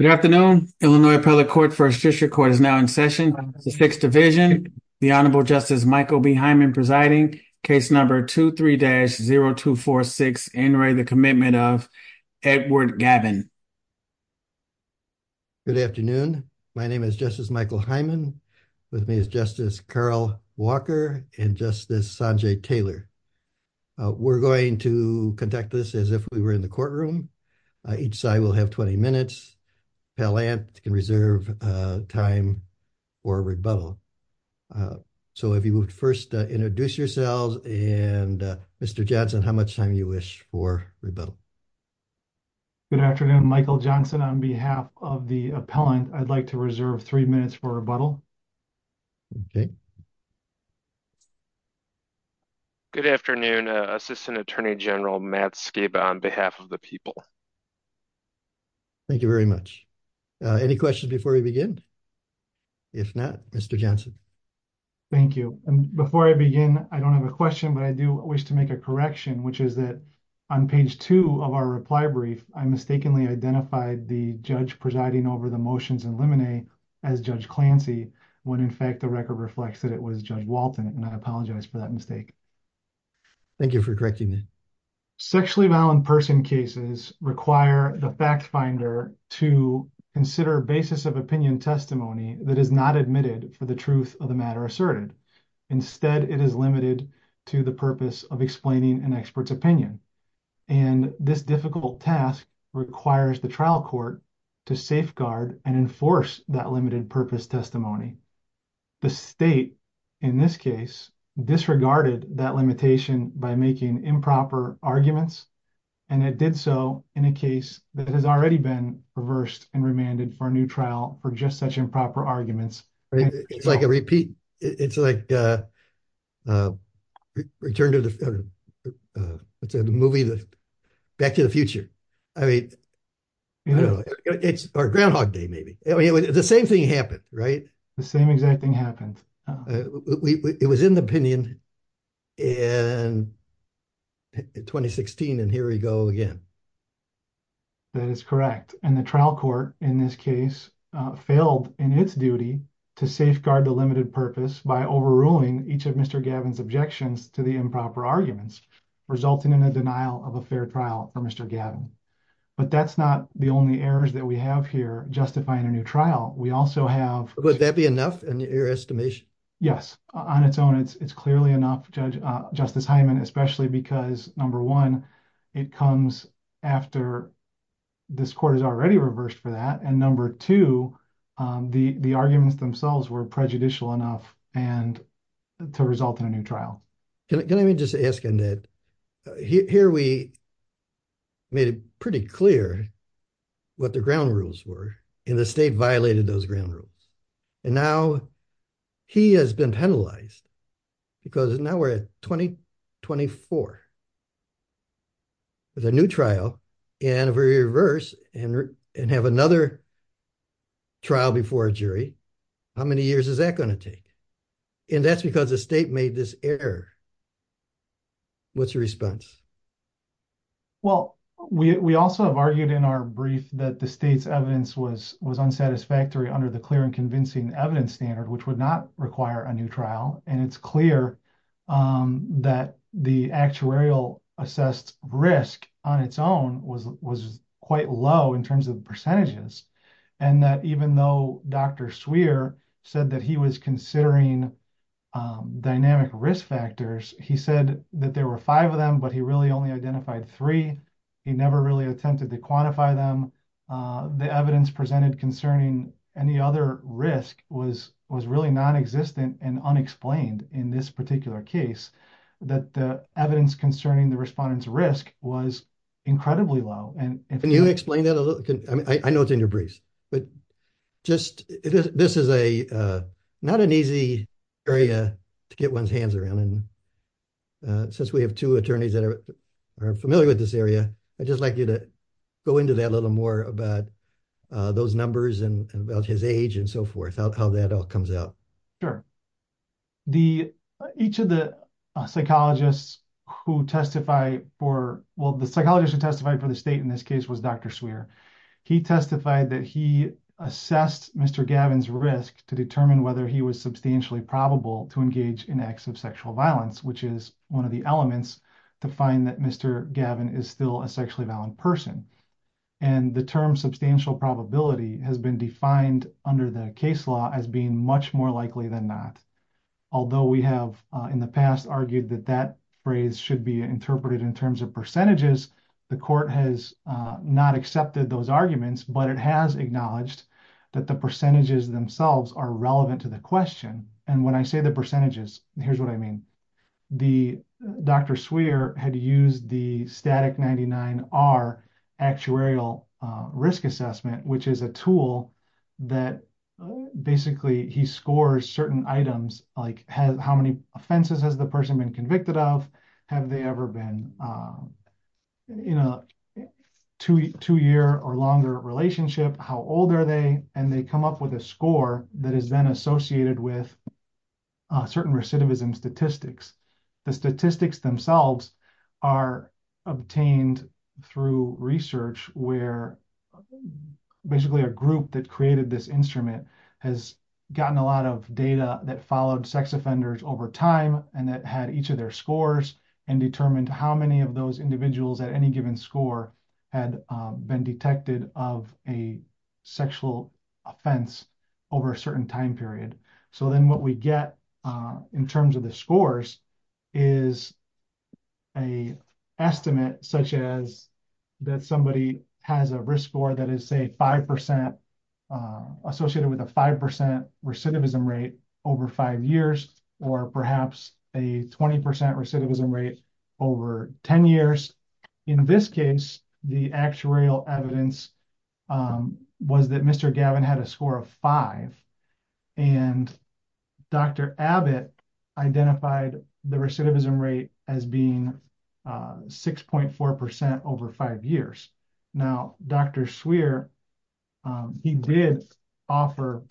Good afternoon. Illinois Appellate Court vs. Fisher Court is now in session. The Sixth Division, the Honorable Justice Michael B. Hyman presiding, case number 23-0246, Inouye, the Commitment of Edward Gavin. Good afternoon. My name is Justice Michael Hyman. With me is Justice Carl Walker and Justice Sanjay Taylor. We're going to conduct this as if we were in the courtroom. Each side will have 20 minutes. Appellant can reserve time for rebuttal. So if you would first introduce yourselves. And Mr. Johnson, how much time you wish for rebuttal? Good afternoon. Michael Johnson on behalf of the appellant. I'd like to reserve three minutes for rebuttal. Okay. Good afternoon. Assistant Attorney General Matt Skiba on behalf of the people. Thank you very much. Any questions before we begin? If not, Mr. Johnson. Thank you. And before I begin, I don't have a question, but I do wish to make a correction, which is that on page two of our reply brief, I mistakenly identified the judge presiding over the motions in limine as Judge Clancy, when in fact the record reflects that it was Judge Walton. And I apologize for that mistake. Thank you for correcting me. Sexually violent person cases require the fact finder to consider a basis of opinion testimony that is not admitted for the truth of the matter asserted. Instead, it is limited to the purpose of explaining an expert's opinion. And this difficult task requires the trial court to safeguard and enforce that limited purpose testimony. The state in this case disregarded that limitation by making improper arguments. And it did so in a case that has already been reversed and remanded for a new trial for just such improper arguments. It's like a repeat. It's like a return to the movie, Back to the Future. I mean, it's Groundhog Day, maybe. The same thing happened, right? The same exact thing happened. It was in the opinion in 2016, and here we go again. That is correct. And the trial court in this case failed in its duty to safeguard the limited purpose by overruling each of Mr. Gavin's objections to the improper arguments, resulting in a denial of a fair trial for Mr. Gavin. But that's not the only errors that we have here justifying a new trial. We also have... Would that be enough in your estimation? Yes. On its own, it's clearly enough, Justice Hyman, especially because, number one, it comes after this court has already reversed for that. And number two, the arguments themselves were prejudicial enough to result in a new trial. Can I just ask, Annette, here we made it pretty clear what the ground rules were, and the state violated those ground rules. And now he has been penalized because now we're at 2024 with a new trial, and if we reverse and have another trial before a jury, how many years is that going to take? And that's because the state made this error. What's your response? Well, we also have argued in our brief that the state's evidence was unsatisfactory under the clear and convincing evidence standard, which would not require a new trial. And it's clear that the actuarial assessed risk on its own was quite low in terms of percentages, and that even though Dr. Swear said that he was considering dynamic risk factors, he said that there were five of them, but he really only identified three. He never really attempted to quantify them. The evidence presented concerning any other risk was really non-existent and unexplained in this particular case, that the evidence concerning the respondent's risk was incredibly low. Can you explain that a little? I know it's in your briefs, but this is not an easy area to get one's hands around. And since we have two attorneys that are familiar with this area, I'd just like you to go into that a little more about those numbers and about his age and so forth, how that all comes out. Sure. Each of the psychologists who testified for, well, the psychologist who testified for the state in this case was Dr. Swear. He testified that he assessed Mr. Gavin's risk to determine whether he was substantially probable to engage in acts of sexual violence, which is one of the elements to find that Mr. Gavin is still a sexually violent person. And the term substantial probability has been defined under the case law as being much more likely than not. Although we have in the past argued that that phrase should be interpreted in terms of percentages, the court has not accepted those arguments, but it has acknowledged that the percentages themselves are relevant to the question. And when I say the percentages, here's what I mean. The Dr. Swear had used the static 99R actuarial risk assessment, which is a tool that basically he scores certain items, like how many offenses has the person been convicted of? Have they ever been in a two year or longer relationship? How old are they? And they come up with a score that is then associated with certain recidivism statistics. The statistics themselves are obtained through research where basically a group that created this instrument has gotten a lot of data that followed sex offenders over time and that had each of their scores and determined how many of those individuals at any given score had been detected of a sexual offense over a certain time period. So then what we get in terms of the scores is a estimate such as that somebody has a risk score that is say 5% associated with a 5% recidivism rate over five years, or perhaps a 20% recidivism rate over 10 years. In this case, the actuarial evidence was that Mr. Gavin had a score of five and Dr. Abbott identified the recidivism rate as being 6.4% over five years. Now, Dr. Swear, he did offer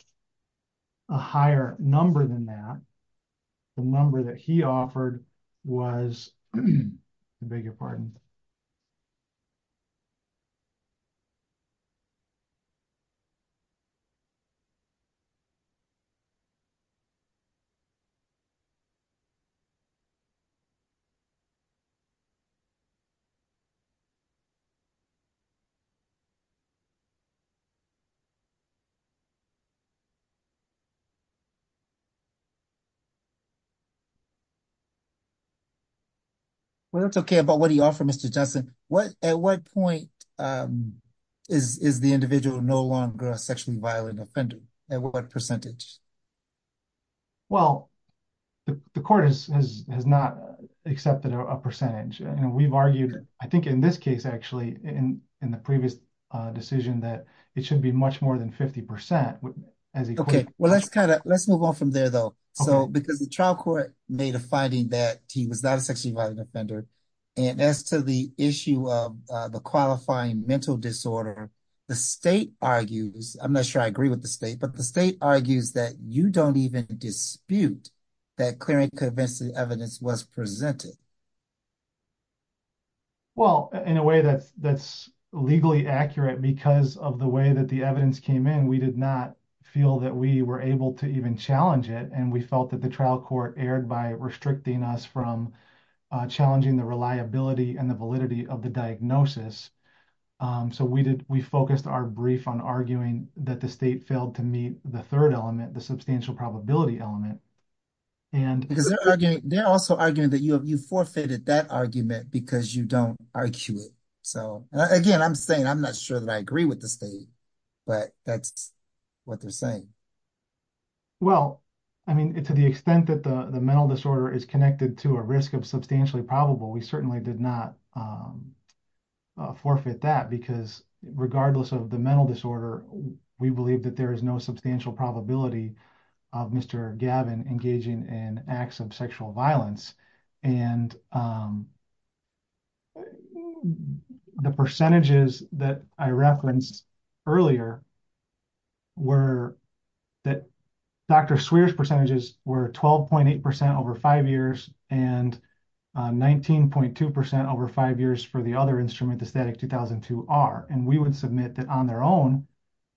a higher number than that. The number that he offered was, I beg your pardon. Well, it's okay about what he offered, Mr. Johnson. At what point is the individual no longer a sexually violent offender? At what percentage? Well, the court has not accepted a percentage. And we've argued, I think in this case, actually, in the previous decision, that it should be much more than 50% as equal. Well, let's move on from there, though. Because the trial court made a finding that he was not a sexually violent offender. And as to the issue of the qualifying mental disorder, the state argues, I'm not sure I agree with the state, but the state argues that you don't even dispute that clear and convincing evidence was presented. Well, in a way that's legally accurate because of the way that the evidence came in, we did not feel that we were able to even challenge it. And we felt that the trial court erred by restricting us from challenging the reliability and the validity of the diagnosis. So we focused our brief on arguing that the state failed to meet the third element, the substantial probability element. Because they're also arguing that you forfeited that argument because you don't argue it. So again, I'm saying I'm not sure that I agree with the state, but that's what they're saying. Well, I mean, to the extent that the mental disorder is connected to a risk of substantially probable, we certainly did not forfeit that because regardless of the mental disorder, we believe that there is no substantial probability of Mr. Gavin engaging in acts of sexual violence. And the percentages that I referenced earlier were that Dr. Swear's percentages were 12.8% over five years and 19.2% over five years for the other instrument, the STATIC-2002-R. And we would submit that on their own,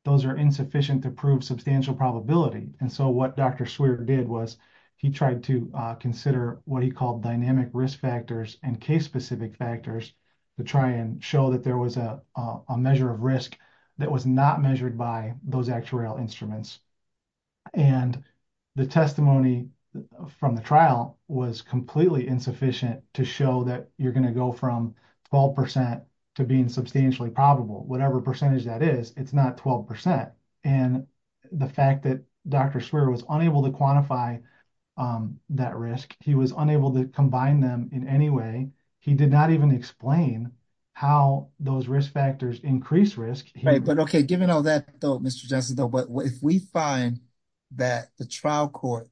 those are insufficient to prove substantial probability. And so what Dr. Swear did was he tried to consider what he called dynamic risk factors and case specific factors to try and show that there was a measure of risk that was not measured by those actuarial instruments. And the testimony from the trial was completely insufficient to show that you're going to go from 12% to being substantially probable, whatever percentage that is, it's not 12%. And the fact that Dr. Swear was unable to quantify that risk, he was unable to combine them in any way. He did not even explain how those risk factors increase risk. Right. But okay, given all that though, Mr. Johnson, if we find that the trial court,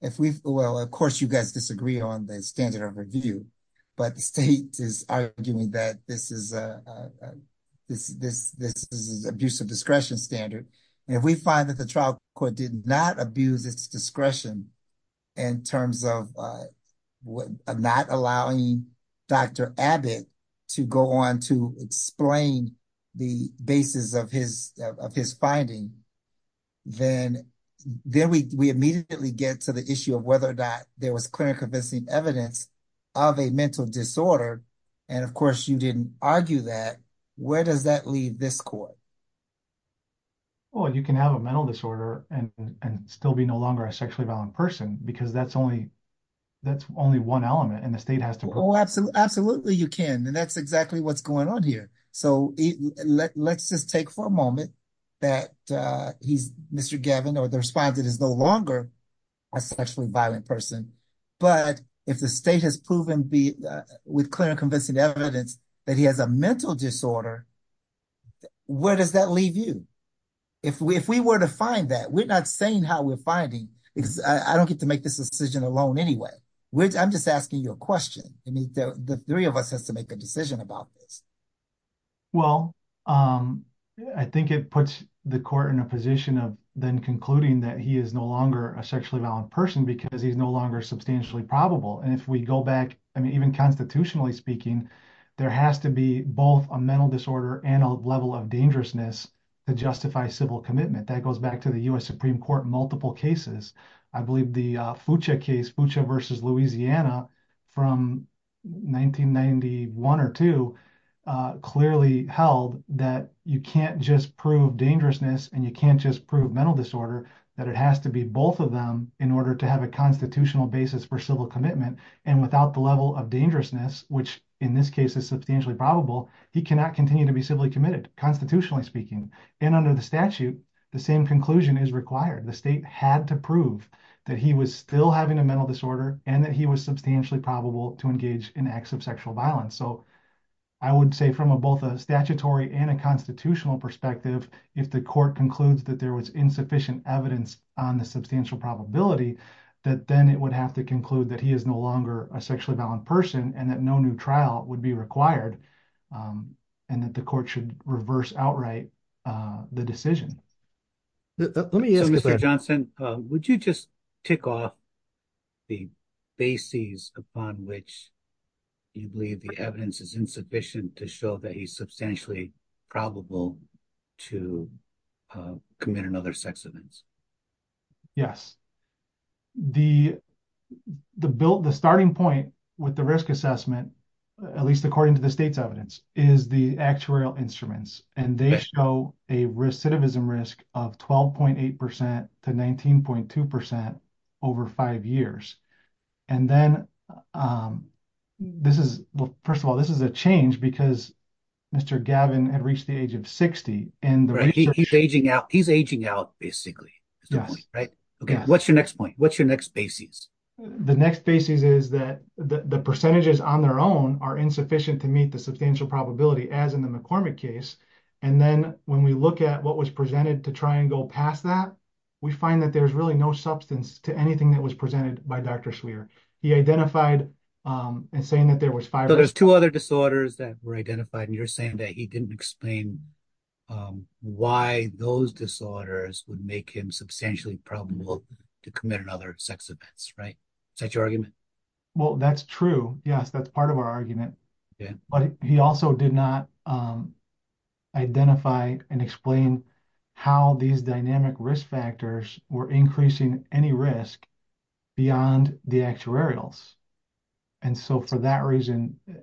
if we, well, of course you guys disagree on the standard of review, but the state is arguing that this is abusive discretion standard. And if we find that the trial court did not abuse its discretion in terms of not allowing Dr. Abbott to go on to explain the basis of his finding, then we immediately get to the issue of whether or not there was clear and convincing evidence of a mental disorder. And of course you didn't argue that, where does that leave this court? Well, you can have a mental disorder and still be no longer a sexually violent person because that's only one element and the state has to prove it. Absolutely you can. And that's exactly what's going on here. So let's just take for a moment that Mr. Gavin or the respondent is no longer a sexually violent person, but if the state has proven with clear and convincing evidence that he has a mental disorder, where does that leave you? If we were to find that, we're not saying how we're finding because I don't get to make this decision alone anyway. I'm just asking you a question. I mean, the three of us has to make a decision about this. Well, I think it puts the court in a position of then concluding that he is no longer a sexually violent person because he's no longer substantially probable. And if we go back, I mean, even constitutionally speaking, there has to be both a mental disorder and a level of dangerousness to justify civil commitment. That goes back to the U.S. Supreme Court, multiple cases. I believe the FUCHA case, FUCHA versus Louisiana from 1991 or two, clearly held that you can't just prove dangerousness and you can't just prove mental disorder, that it has to be both of them in order to have a constitutional basis for civil commitment. And without the level of dangerousness, which in this case is substantially probable, he cannot continue to be civilly committed, constitutionally speaking. And under the state had to prove that he was still having a mental disorder and that he was substantially probable to engage in acts of sexual violence. So I would say from a both a statutory and a constitutional perspective, if the court concludes that there was insufficient evidence on the substantial probability, that then it would have to conclude that he is no longer a sexually violent person and that no new trial would be required. And that the court should reverse outright the decision. So Mr. Johnson, would you just tick off the basis upon which you believe the evidence is insufficient to show that he's substantially probable to commit another sex offense? Yes. The starting point with the risk assessment, at least according to the state's is the actuarial instruments and they show a recidivism risk of 12.8% to 19.2% over five years. And then this is, well, first of all, this is a change because Mr. Gavin had reached the age of 60 and he's aging out. He's aging out basically, right? Okay. What's your next point? What's your next basis? The next basis is that the percentages on their own are insufficient to meet the substantial probability as in the McCormick case. And then when we look at what was presented to try and go past that, we find that there's really no substance to anything that was presented by Dr. Swear. He identified and saying that there was five. There's two other disorders that were identified and you're saying that he didn't explain why those disorders would make him substantially probable to commit another sex offense, right? Is that your argument? Well, that's true. Yes, that's part of our argument, but he also did not identify and explain how these dynamic risk factors were increasing any risk beyond the actuarials. And so for that reason, it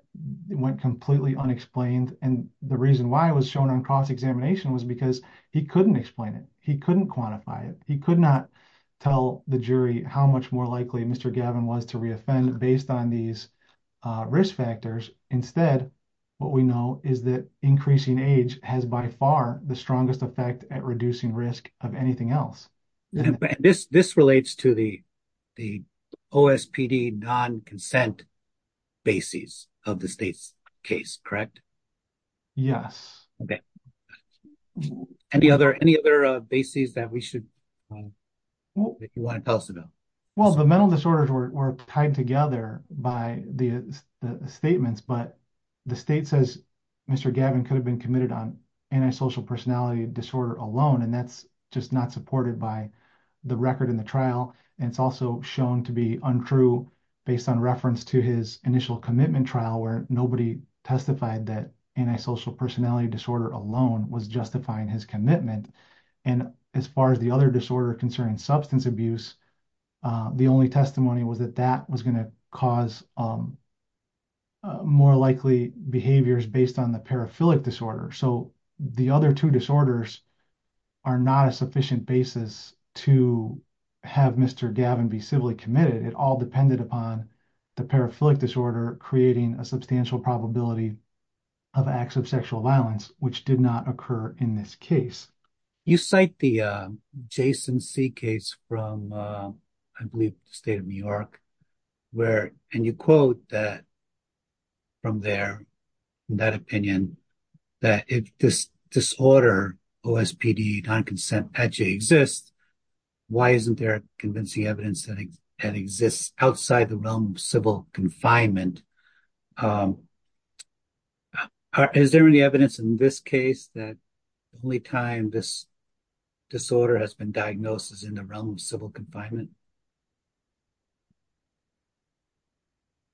went completely unexplained. And the reason why it was shown on cross-examination was because he couldn't explain it. He couldn't quantify it. He could not tell the jury how much more likely Mr. Gavin was to re-offend based on these risk factors. Instead, what we know is that increasing age has by far the strongest effect at reducing risk of anything else. And this relates to the OSPD non-consent basis of the state's case, correct? Yes. Okay. Any other basis that we should know if you want to tell us about? Well, the mental disorders were tied together by the statements, but the state says Mr. Gavin could have been committed on antisocial personality disorder alone. And that's just not supported by the record in the trial. And it's also shown to be untrue based on reference to his initial commitment trial, where nobody testified that antisocial personality disorder alone was justifying his commitment. And as far as the other disorder concerning substance abuse, the only testimony was that that was going to cause more likely behaviors based on the paraphilic disorder. So the other two disorders are not a sufficient basis to have Mr. Gavin be civilly committed. It all depended upon the paraphilic disorder creating a substantial probability of acts of sexual violence, which did not occur in this case. You cite the Jason C case from, I believe the state of New York, where, and you quote that from there, in that opinion, that if this disorder, OSPD non-consent actually exists, why isn't there convincing evidence that exists outside the realm of civil confinement? Is there any evidence in this case that only time this disorder has been diagnosed as in the realm of civil confinement?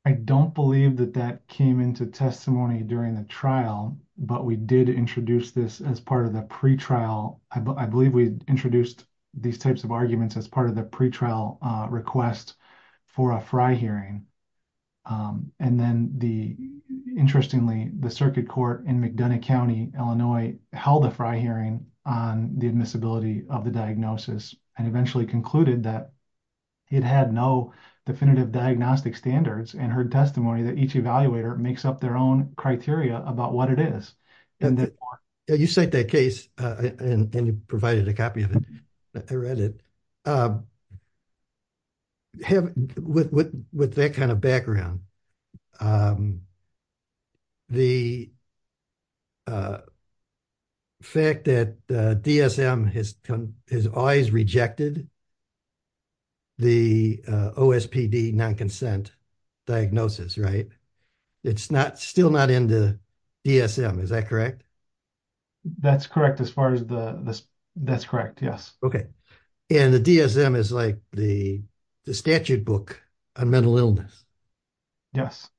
I don't believe that that came into testimony during the trial, but we did introduce this as part of the pretrial. I believe we introduced these types of arguments as part of the pretrial request for a FRI hearing. And then the, interestingly, the circuit court in McDonough County, Illinois held a FRI hearing on the admissibility of the diagnosis and eventually concluded that it had no definitive diagnostic standards and heard testimony that each evaluator makes up their own criteria about what it is. You cite that case and you provided a copy of it. I read it. With that kind of background, the fact that DSM has always rejected the OSPD non-consent diagnosis, right? It's still not in the DSM, is that correct? That's correct as far as the, that's correct, yes. Okay. And the DSM is like the statute book on mental illness. Yes.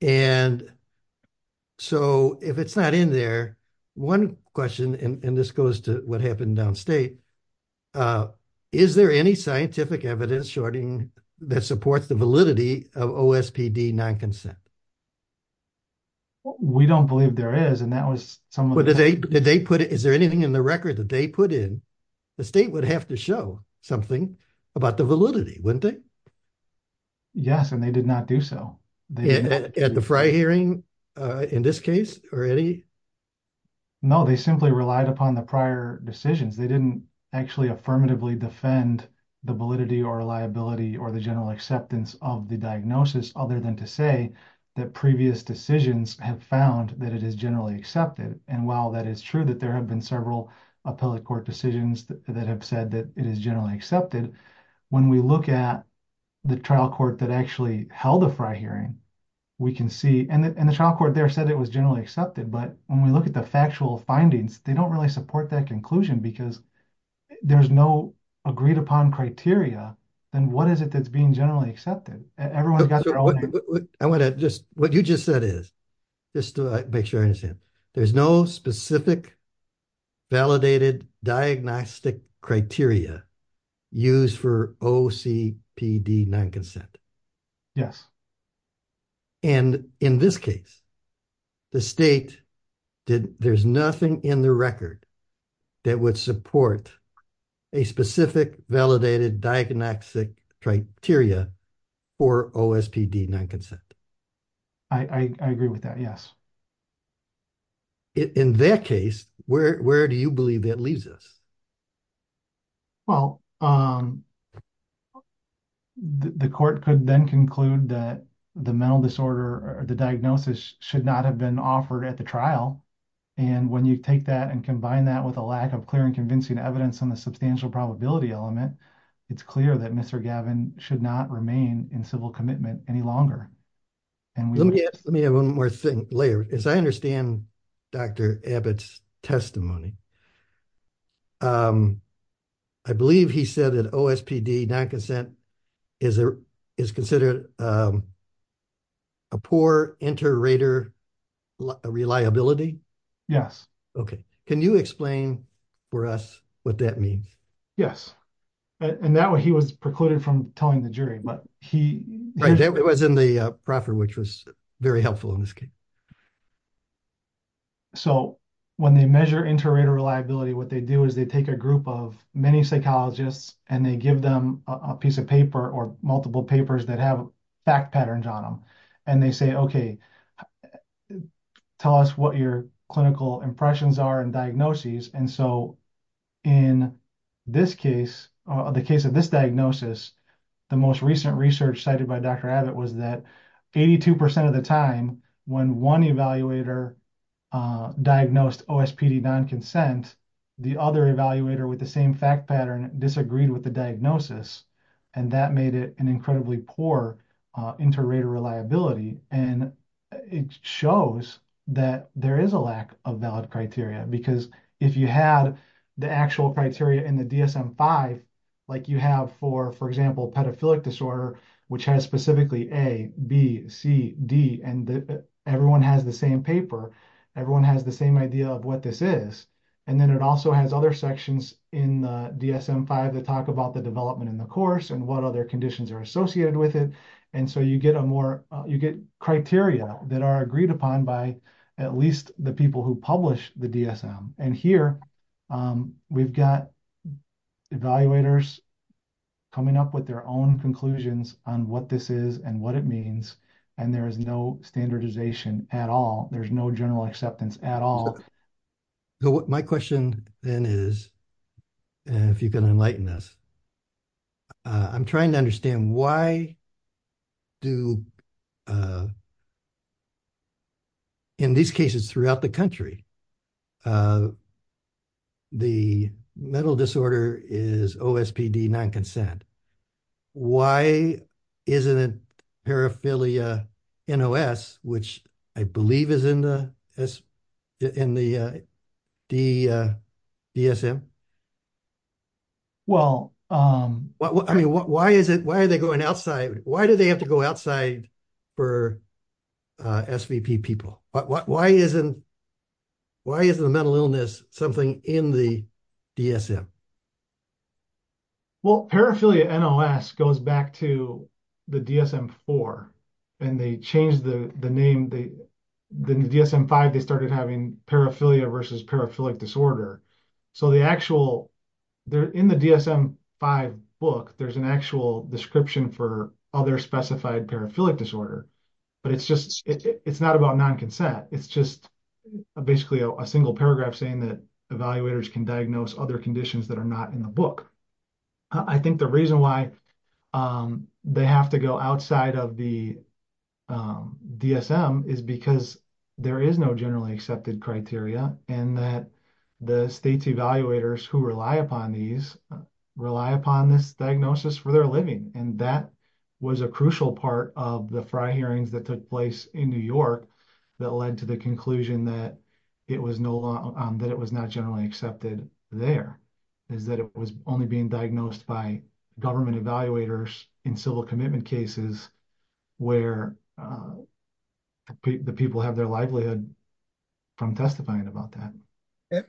And so if it's not in there, one question, and this goes to what happened downstate, is there any scientific evidence that supports the validity of OSPD non-consent? Well, we don't believe there is, and that was some of the- But did they, did they put, is there anything in the record that they put in? The state would have to show something about the validity, wouldn't they? Yes, and they did not do so. At the FRI hearing, in this case, or any? No, they simply relied upon the prior decisions. They didn't actually affirmatively defend the validity or liability or the general acceptance of the diagnosis, other than to say that previous decisions have found that it is generally accepted. And while that is true, that there have been several appellate court decisions that have said that it is generally accepted, when we look at the trial court that actually held the FRI hearing, we can see, and the trial court there said it was generally accepted, but when we look at the factual findings, they don't really support that conclusion because there's no agreed-upon criteria, then what is it that's being generally accepted? Everyone's got their own- I want to just, what you just said is, just to make sure I understand, there's no specific validated diagnostic criteria used for OCPD non-consent. Yes. And in this case, the state did, there's nothing in the record that would support a specific validated diagnostic criteria for OSPD non-consent. I agree with that, yes. In that case, where do you believe that leaves us? Well, the court could then conclude that the mental disorder, or the diagnosis, should not have been offered at the trial. And when you take that and combine that with a lack of clear and convincing evidence on the substantial probability element, it's clear that Mr. Gavin should not remain in civil commitment any longer. And we- Let me ask, let me have one more thing later. As I understand Dr. Abbott's testimony, I believe he said that OSPD non-consent is considered a poor inter-rater reliability? Yes. Okay. Can you explain for us what that means? Yes. And that way he was precluded from telling the jury, but he- Right, that was in the proffer, which was very helpful in this case. Okay. So when they measure inter-rater reliability, what they do is they take a group of many psychologists and they give them a piece of paper or multiple papers that have fact patterns on them. And they say, okay, tell us what your clinical impressions are and diagnoses. And so in this case, the case of this diagnosis, the most recent research cited by Dr. Abbott was that 82% of the time when one evaluator diagnosed OSPD non-consent, the other evaluator with the same fact pattern disagreed with the diagnosis. And that made it an incredibly poor inter-rater reliability. And it shows that there is a lack of valid criteria because if you had the actual A, B, C, D, and everyone has the same paper, everyone has the same idea of what this is. And then it also has other sections in the DSM-5 that talk about the development in the course and what other conditions are associated with it. And so you get criteria that are agreed upon by at least the people who publish the DSM. And here we've got evaluators coming up with their own conclusions on what this is and what it means. And there is no standardization at all. There's no general acceptance at all. So my question then is, if you can enlighten us, I'm trying to understand why do, in these cases throughout the country, the mental disorder is OSPD non-consent. Why isn't it paraphilia NOS, which I believe is in the in the DSM? Well, I mean, why are they going outside? Why do they have to go outside for SVP people? Why isn't why isn't the mental illness something in the DSM? Well, paraphilia NOS goes back to the DSM-4 and they changed the name. The DSM-5, they started having paraphilia versus paraphilic disorder. So the actual, there in the DSM-5 book, there's an actual description for other specified paraphilic disorder, but it's just, it's not about non-consent. It's just basically a single paragraph saying that evaluators can diagnose other conditions that are not in the book. I think the reason why they have to go outside of the DSM is because there is no generally accepted criteria and that the states evaluators who rely upon these rely upon this diagnosis for their living. And that was a crucial part of the Frye hearings that took place in New York that led to the conclusion that it was not generally accepted there, is that it was only being diagnosed by government evaluators in civil commitment cases where the people have their livelihood from testifying about that.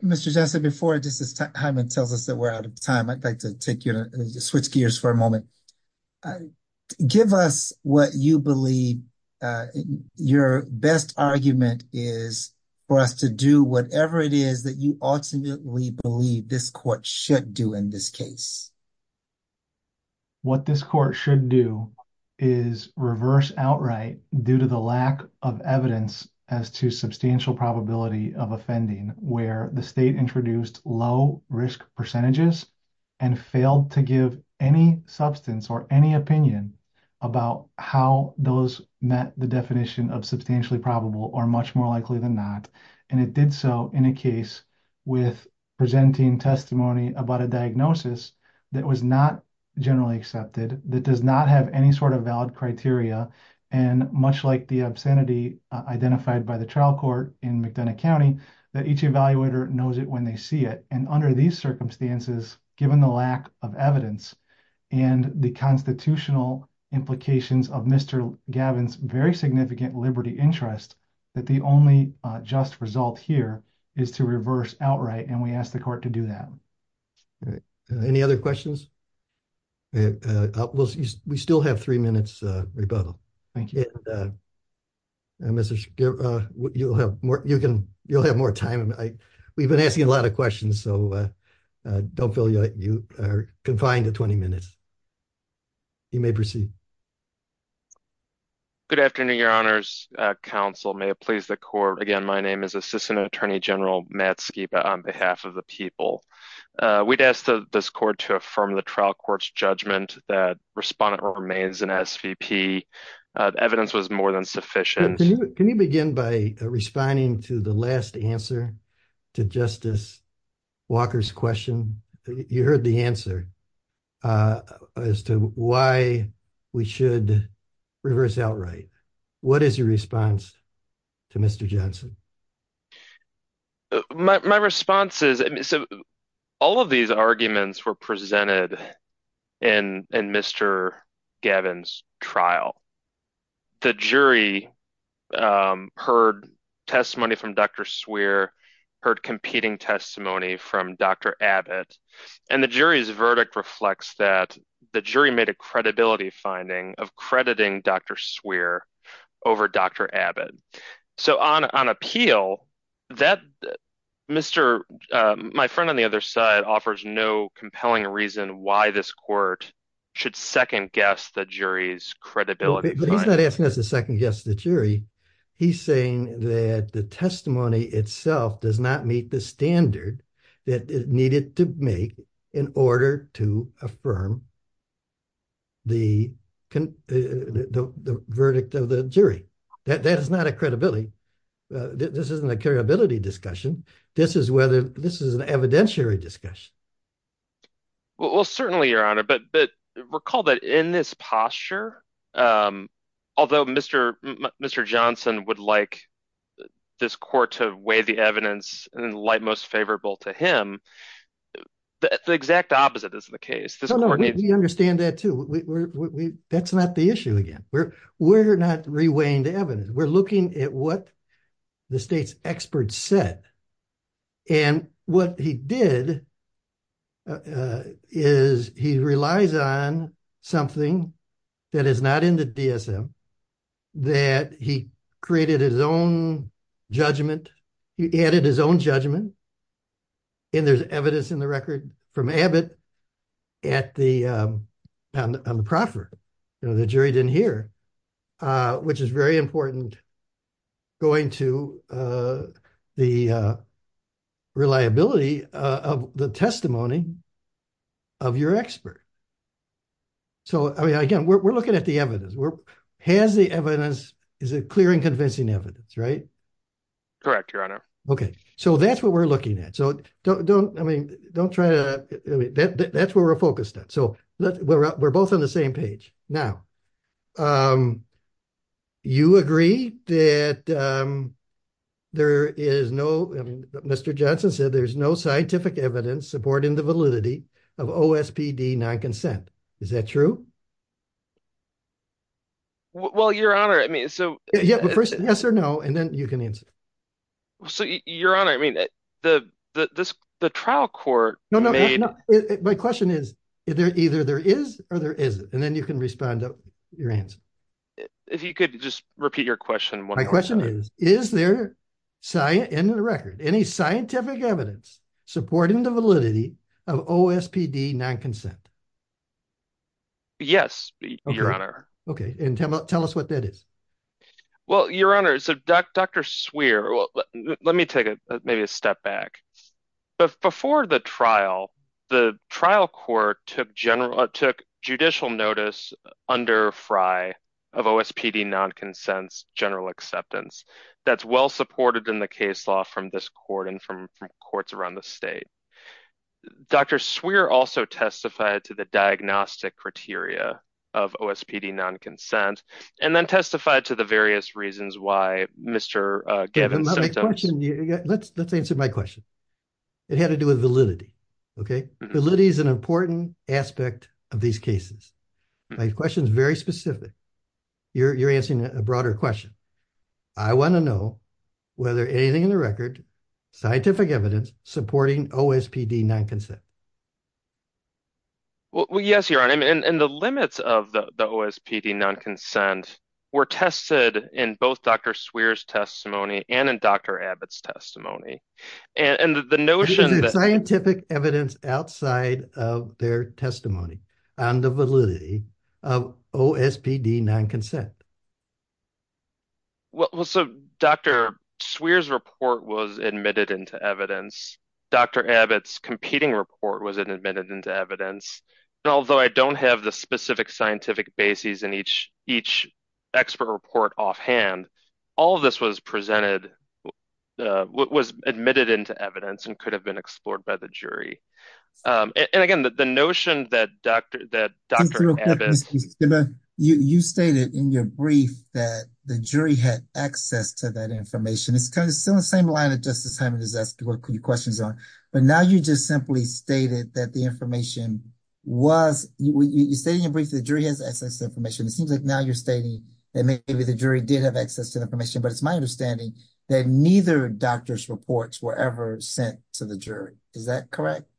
Mr. Jessup, before I just, as Hyman tells us that we're out of time, I'd like to take you to switch gears for a moment. Give us what you believe your best argument is for us to do whatever it is that you ultimately believe this court should do in this case. What this court should do is reverse outright due to the lack of evidence as to substantial probability of offending where the state introduced low risk percentages and failed to give any substance or any opinion about how those met the definition of substantially probable or much more likely than not. And it did so in a case with presenting testimony about a diagnosis that was not generally accepted, that does not have any sort of valid criteria. And much like the obscenity identified by the trial court in McDonough County, that each evaluator knows it when they see it. And under these circumstances, given the lack of evidence and the constitutional implications of Mr. Gavin's very significant liberty interest, that the only just result here is to reverse outright. And we asked the court to do that. All right. Any other questions? We still have three minutes rebuttal. Thank you. Mr. Schiff, you'll have more time. We've been asking a lot of questions, so don't feel you are confined to 20 minutes. You may proceed. Good afternoon, your honors counsel. May it please the court. Again, my name is Assistant Attorney General Matt Skiba on behalf of the people. We'd ask this court to affirm the trial court's judgment that respondent remains an SVP. Evidence was more than sufficient. Can you begin by responding to the last answer to Justice Walker's question? You heard the answer as to why we should reverse outright. What is your response to Mr. Johnson? My response is, all of these arguments were presented in Mr. Gavin's trial. The jury heard testimony from Dr. Swear, heard competing testimony from Dr. Abbott, and the jury's verdict reflects that the jury made a credibility finding of crediting Dr. Swear over Dr. Abbott. So on appeal, my friend on the other side offers no compelling reason why this court should second guess the jury's credibility. He's not asking us to second guess the jury. He's saying that the testimony itself does not meet the standard that it needed to make in order to affirm the verdict of the jury. That is not a credibility. This isn't a credibility discussion. This is whether this is an evidentiary discussion. Well, certainly, Your Honor, but recall that in this posture, although Mr. Johnson would like this court to weigh the evidence in the light favorable to him, the exact opposite is the case. No, no, we understand that too. That's not the issue again. We're not re-weighing the evidence. We're looking at what the state's experts said. And what he did is he relies on something that is not in the DSM that he created his own judgment. He added his own judgment. And there's evidence in the record from Abbott at the, on the proffer, you know, the jury didn't hear, which is very important going to the reliability of the testimony of your expert. So, I mean, again, we're looking at the has the evidence, is it clear and convincing evidence, right? Correct, Your Honor. Okay. So that's what we're looking at. So don't, I mean, don't try to, that's where we're focused on. So we're both on the same page. Now, you agree that there is no, Mr. Johnson said there's no scientific evidence supporting the validity of OSPD non-consent. Is that true? Well, Your Honor, I mean, so- Yeah, but first yes or no, and then you can answer. So Your Honor, I mean, the trial court- No, no, no. My question is, either there is or there isn't, and then you can respond to your answer. If you could just repeat your question. My question is, is there in the record, any scientific evidence supporting the validity of OSPD non-consent? Yes, Your Honor. Okay. And tell us what that is. Well, Your Honor, so Dr. Swearer, let me take maybe a step back. But before the trial, the trial court took judicial notice under Frye of OSPD non-consent's general acceptance. That's well supported in the case law from this court and from courts around the state. Dr. Swearer also testified to the diagnostic criteria of OSPD non-consent, and then testified to the various reasons why Mr. Gavin- Let's answer my question. It had to do with validity, okay? Validity is an important aspect of these cases. My question is very specific. You're answering a broader question. I want to know whether anything in the record, scientific evidence supporting OSPD non-consent. Well, yes, Your Honor. And the limits of the OSPD non-consent were tested in both Dr. Swearer's testimony and in Dr. Abbott's testimony. And the notion- Because it's scientific evidence outside of their testimony on the validity of OSPD non-consent. Well, so Dr. Swearer's report was admitted into evidence. Dr. Abbott's competing report was admitted into evidence. And although I don't have the specific scientific bases in each expert report offhand, all of this was presented, was admitted into evidence and could have been explored by the jury. And again, the notion that Dr. Abbott- that the jury had access to that information. It's kind of still the same line that Justice Hyman has asked you questions on. But now you just simply stated that the information was- You're stating in brief that the jury has access to information. It seems like now you're stating that maybe the jury did have access to information. But it's my understanding that neither doctor's reports were ever sent to the jury. Is that correct?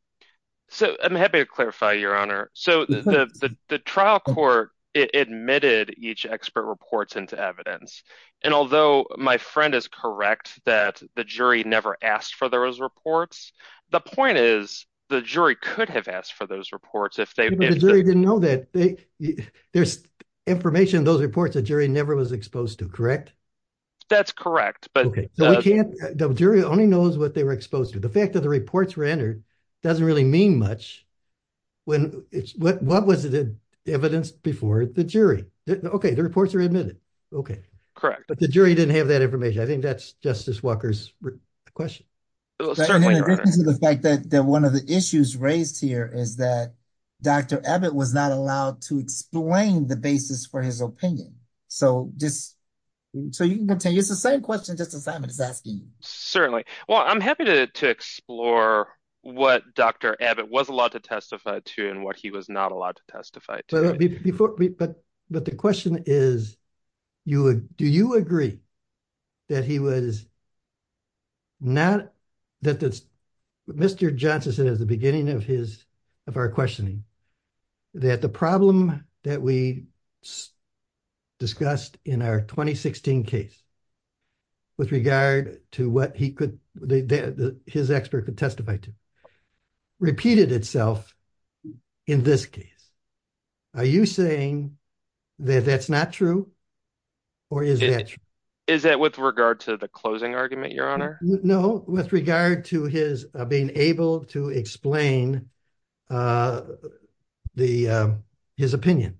So I'm happy to clarify, Your Honor. So the trial court admitted each expert reports into evidence. And although my friend is correct that the jury never asked for those reports, the point is the jury could have asked for those reports if they- But the jury didn't know that. There's information in those reports the jury never was exposed to, correct? That's correct. But- So we can't- The jury only knows what they were exposed to. The fact that the reports were entered doesn't really mean much. When it's- What was the evidence before the jury? Okay, the reports are admitted. Okay. Correct. But the jury didn't have that information. I think that's Justice Walker's question. Certainly, Your Honor. And in addition to the fact that one of the issues raised here is that Dr. Abbott was not allowed to explain the basis for his opinion. So just- So you can continue. It's the same question Justice Hyman is asking you. Certainly. Well, I'm happy to explore what Dr. Abbott was allowed to testify to and what he was not allowed to testify to. But the question is, do you agree that he was not- Mr. Johnson said at the beginning of our questioning that the problem that we discussed in our 2016 case with regard to what he could- his expert could testify to repeated itself in this case. Are you saying that that's not true or is that true? Is that with regard to the closing argument, Your Honor? No, with regard to his being able to explain his opinion.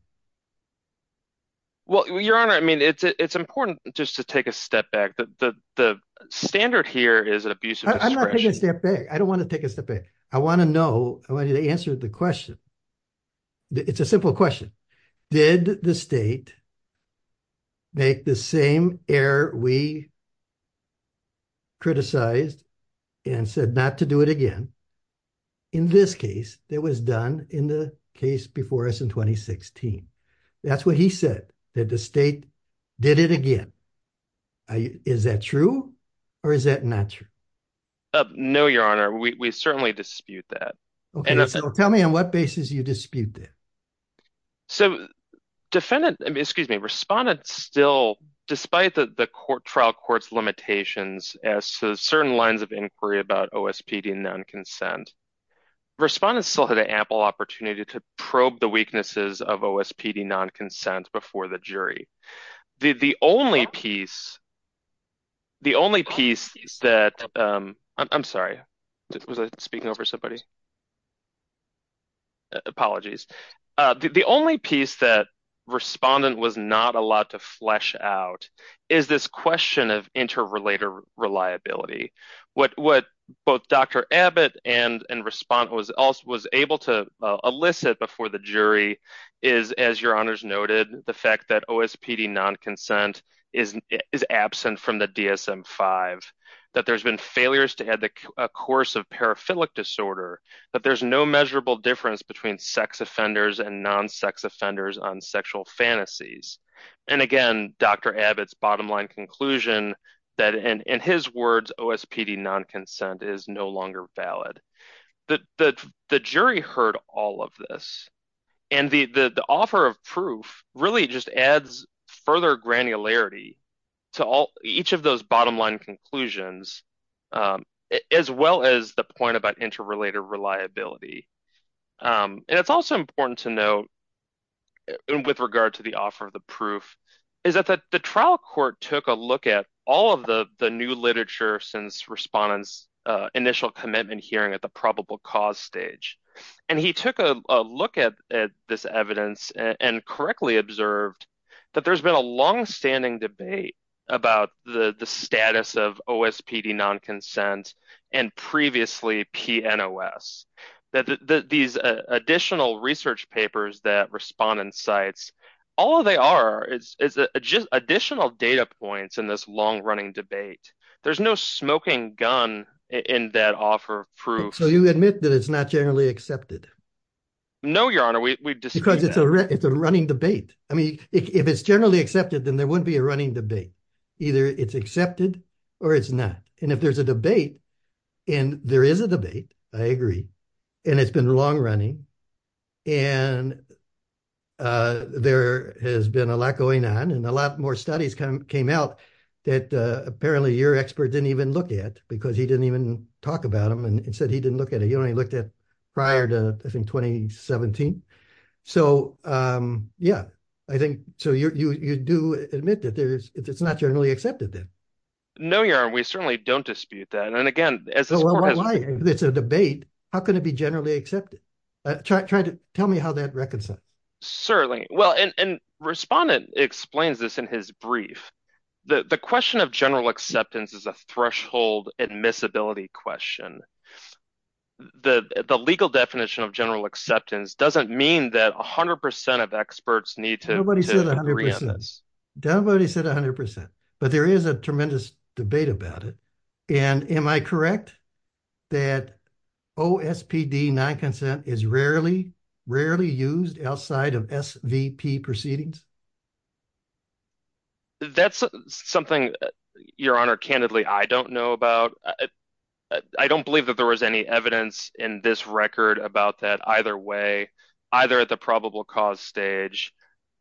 Well, Your Honor, I mean, it's important just to take a step back. The standard here is an abusive expression. I'm not taking a step back. I don't want to take a step back. I want to know, I want you to answer the question. It's a simple question. Did the state make the same error we criticized and said not to do it again in this case that was done in the case before us in 2016? That's what he said, that the state did it again. Is that true or is that not true? No, Your Honor, we certainly dispute that. Okay, so tell me on what basis you dispute that. So defendant, excuse me, respondent still, despite the trial court's limitations as to certain lines of inquiry about OSPD non-consent, respondent still had an ample opportunity to probe the weaknesses of OSPD non-consent before the jury. The only piece, the only piece that, I'm sorry, was I speaking over somebody? Apologies. The only piece that respondent was not allowed to flesh out is this question of interrelater reliability. What both Dr. Abbott and respondent was able to elicit before the jury is, as Your Honors noted, the fact that OSPD non-consent is absent from the DSM-5, that there's been failures to add a course of paraphilic disorder, that there's no measurable difference between sex offenders and non-sex offenders on sexual fantasies. And again, Dr. Abbott's bottom line conclusion that, in his words, OSPD non-consent is no longer valid. The jury heard all of this. And the offer of proof really just adds further granularity to each of those bottom line conclusions, as well as the point about interrelated reliability. And it's also important to note, with regard to the offer of the proof, is that the trial court took a look at all of the new literature since respondent's initial commitment hearing at the probable cause stage. And he took a look at this evidence and correctly observed that there's been a longstanding debate about the status of OSPD non-consent and previously PNOS. That these additional research papers that respondent cites, all they are is just additional data points in this long-running debate. There's no smoking gun in that offer of proof. So you admit that it's not generally accepted? No, Your Honor, we disagree. Because it's a running debate. I mean, if it's generally accepted, then there wouldn't be a running debate. Either it's accepted or it's not. And if there's a debate, and there is a debate, I agree, and it's been long running, and there has been a lot going on, and a lot more studies came out that apparently your expert didn't even look at because he didn't even talk about them. And he said he didn't look at it. He only looked at it prior to, I think, 2017. So yeah, I think, so you do admit that it's not generally accepted then? No, Your Honor, we certainly don't dispute that. And again, as this court has- Well, why? It's a debate. How can it be generally accepted? Try to tell me how that reconciles. Certainly. Well, and respondent explains this in his brief. The question of general acceptance is a threshold admissibility question. The legal definition of general acceptance doesn't mean that 100% of experts need to agree on this. Nobody said 100%. Nobody said 100%. But there is a tremendous debate about it. And am I correct that OSPD non-consent is rarely used outside of SVP proceedings? That's something, Your Honor, candidly, I don't know about. I don't believe that there was any evidence in this record about that either way, either at the probable cause stage,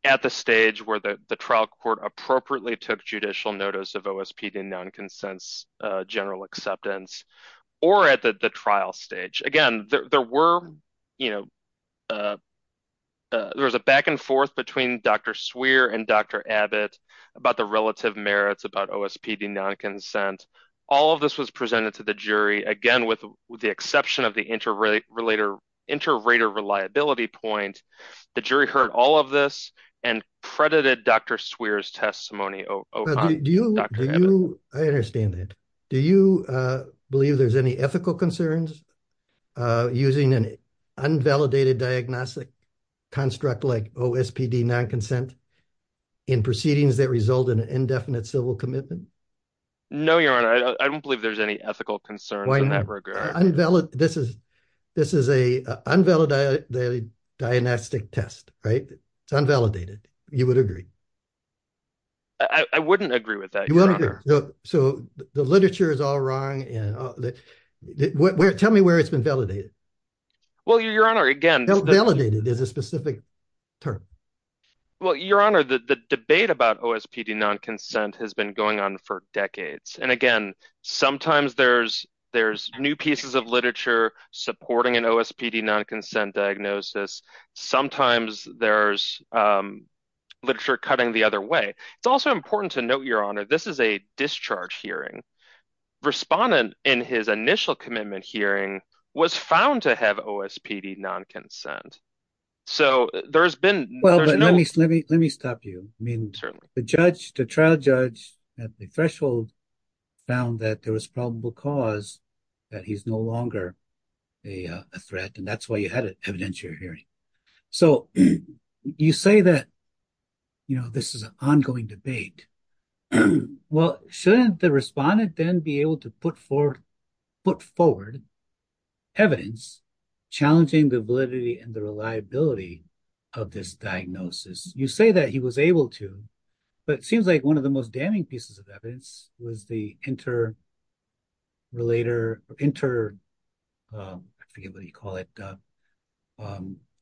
at the stage where the trial court appropriately took judicial notice of OSPD non-consent's general acceptance, or at the trial stage. Again, there was a back and forth between Dr. Swear and Dr. Abbott about the relative merits about OSPD non-consent. All of this was presented to the jury, again, with the exception of the inter-rater reliability point. The jury heard all of this and credited Dr. Swear's testimony. I understand that. Do you believe there's any ethical concerns using an unvalidated diagnostic construct like OSPD non-consent in proceedings that result in an indefinite civil commitment? No, Your Honor. I don't believe there's any ethical concerns in that regard. This is an unvalidated diagnostic test, right? It's unvalidated. You would agree? I wouldn't agree with that, Your Honor. So the literature is all wrong. Tell me where it's been validated. Well, Your Honor, again- Validated is a specific term. Well, Your Honor, the debate about OSPD non-consent has been going on for decades. And again, sometimes there's new pieces of literature supporting an OSPD non-consent diagnosis. Sometimes there's literature cutting the other way. It's also important to note, Your Honor, this is a discharge hearing. Respondent in his initial commitment hearing was found to have OSPD non-consent. So there's been- Well, let me stop you. The judge, the trial judge at the threshold found that there was probable cause that he's no longer a threat. And that's why you had an evidentiary hearing. So you say that this is an ongoing debate. Well, shouldn't the respondent then be able to put forward evidence challenging the validity and the reliability of this diagnosis? You say that he was able to, but it seems like one of the most damning pieces of evidence was the interrelator, inter- I forget what you call it,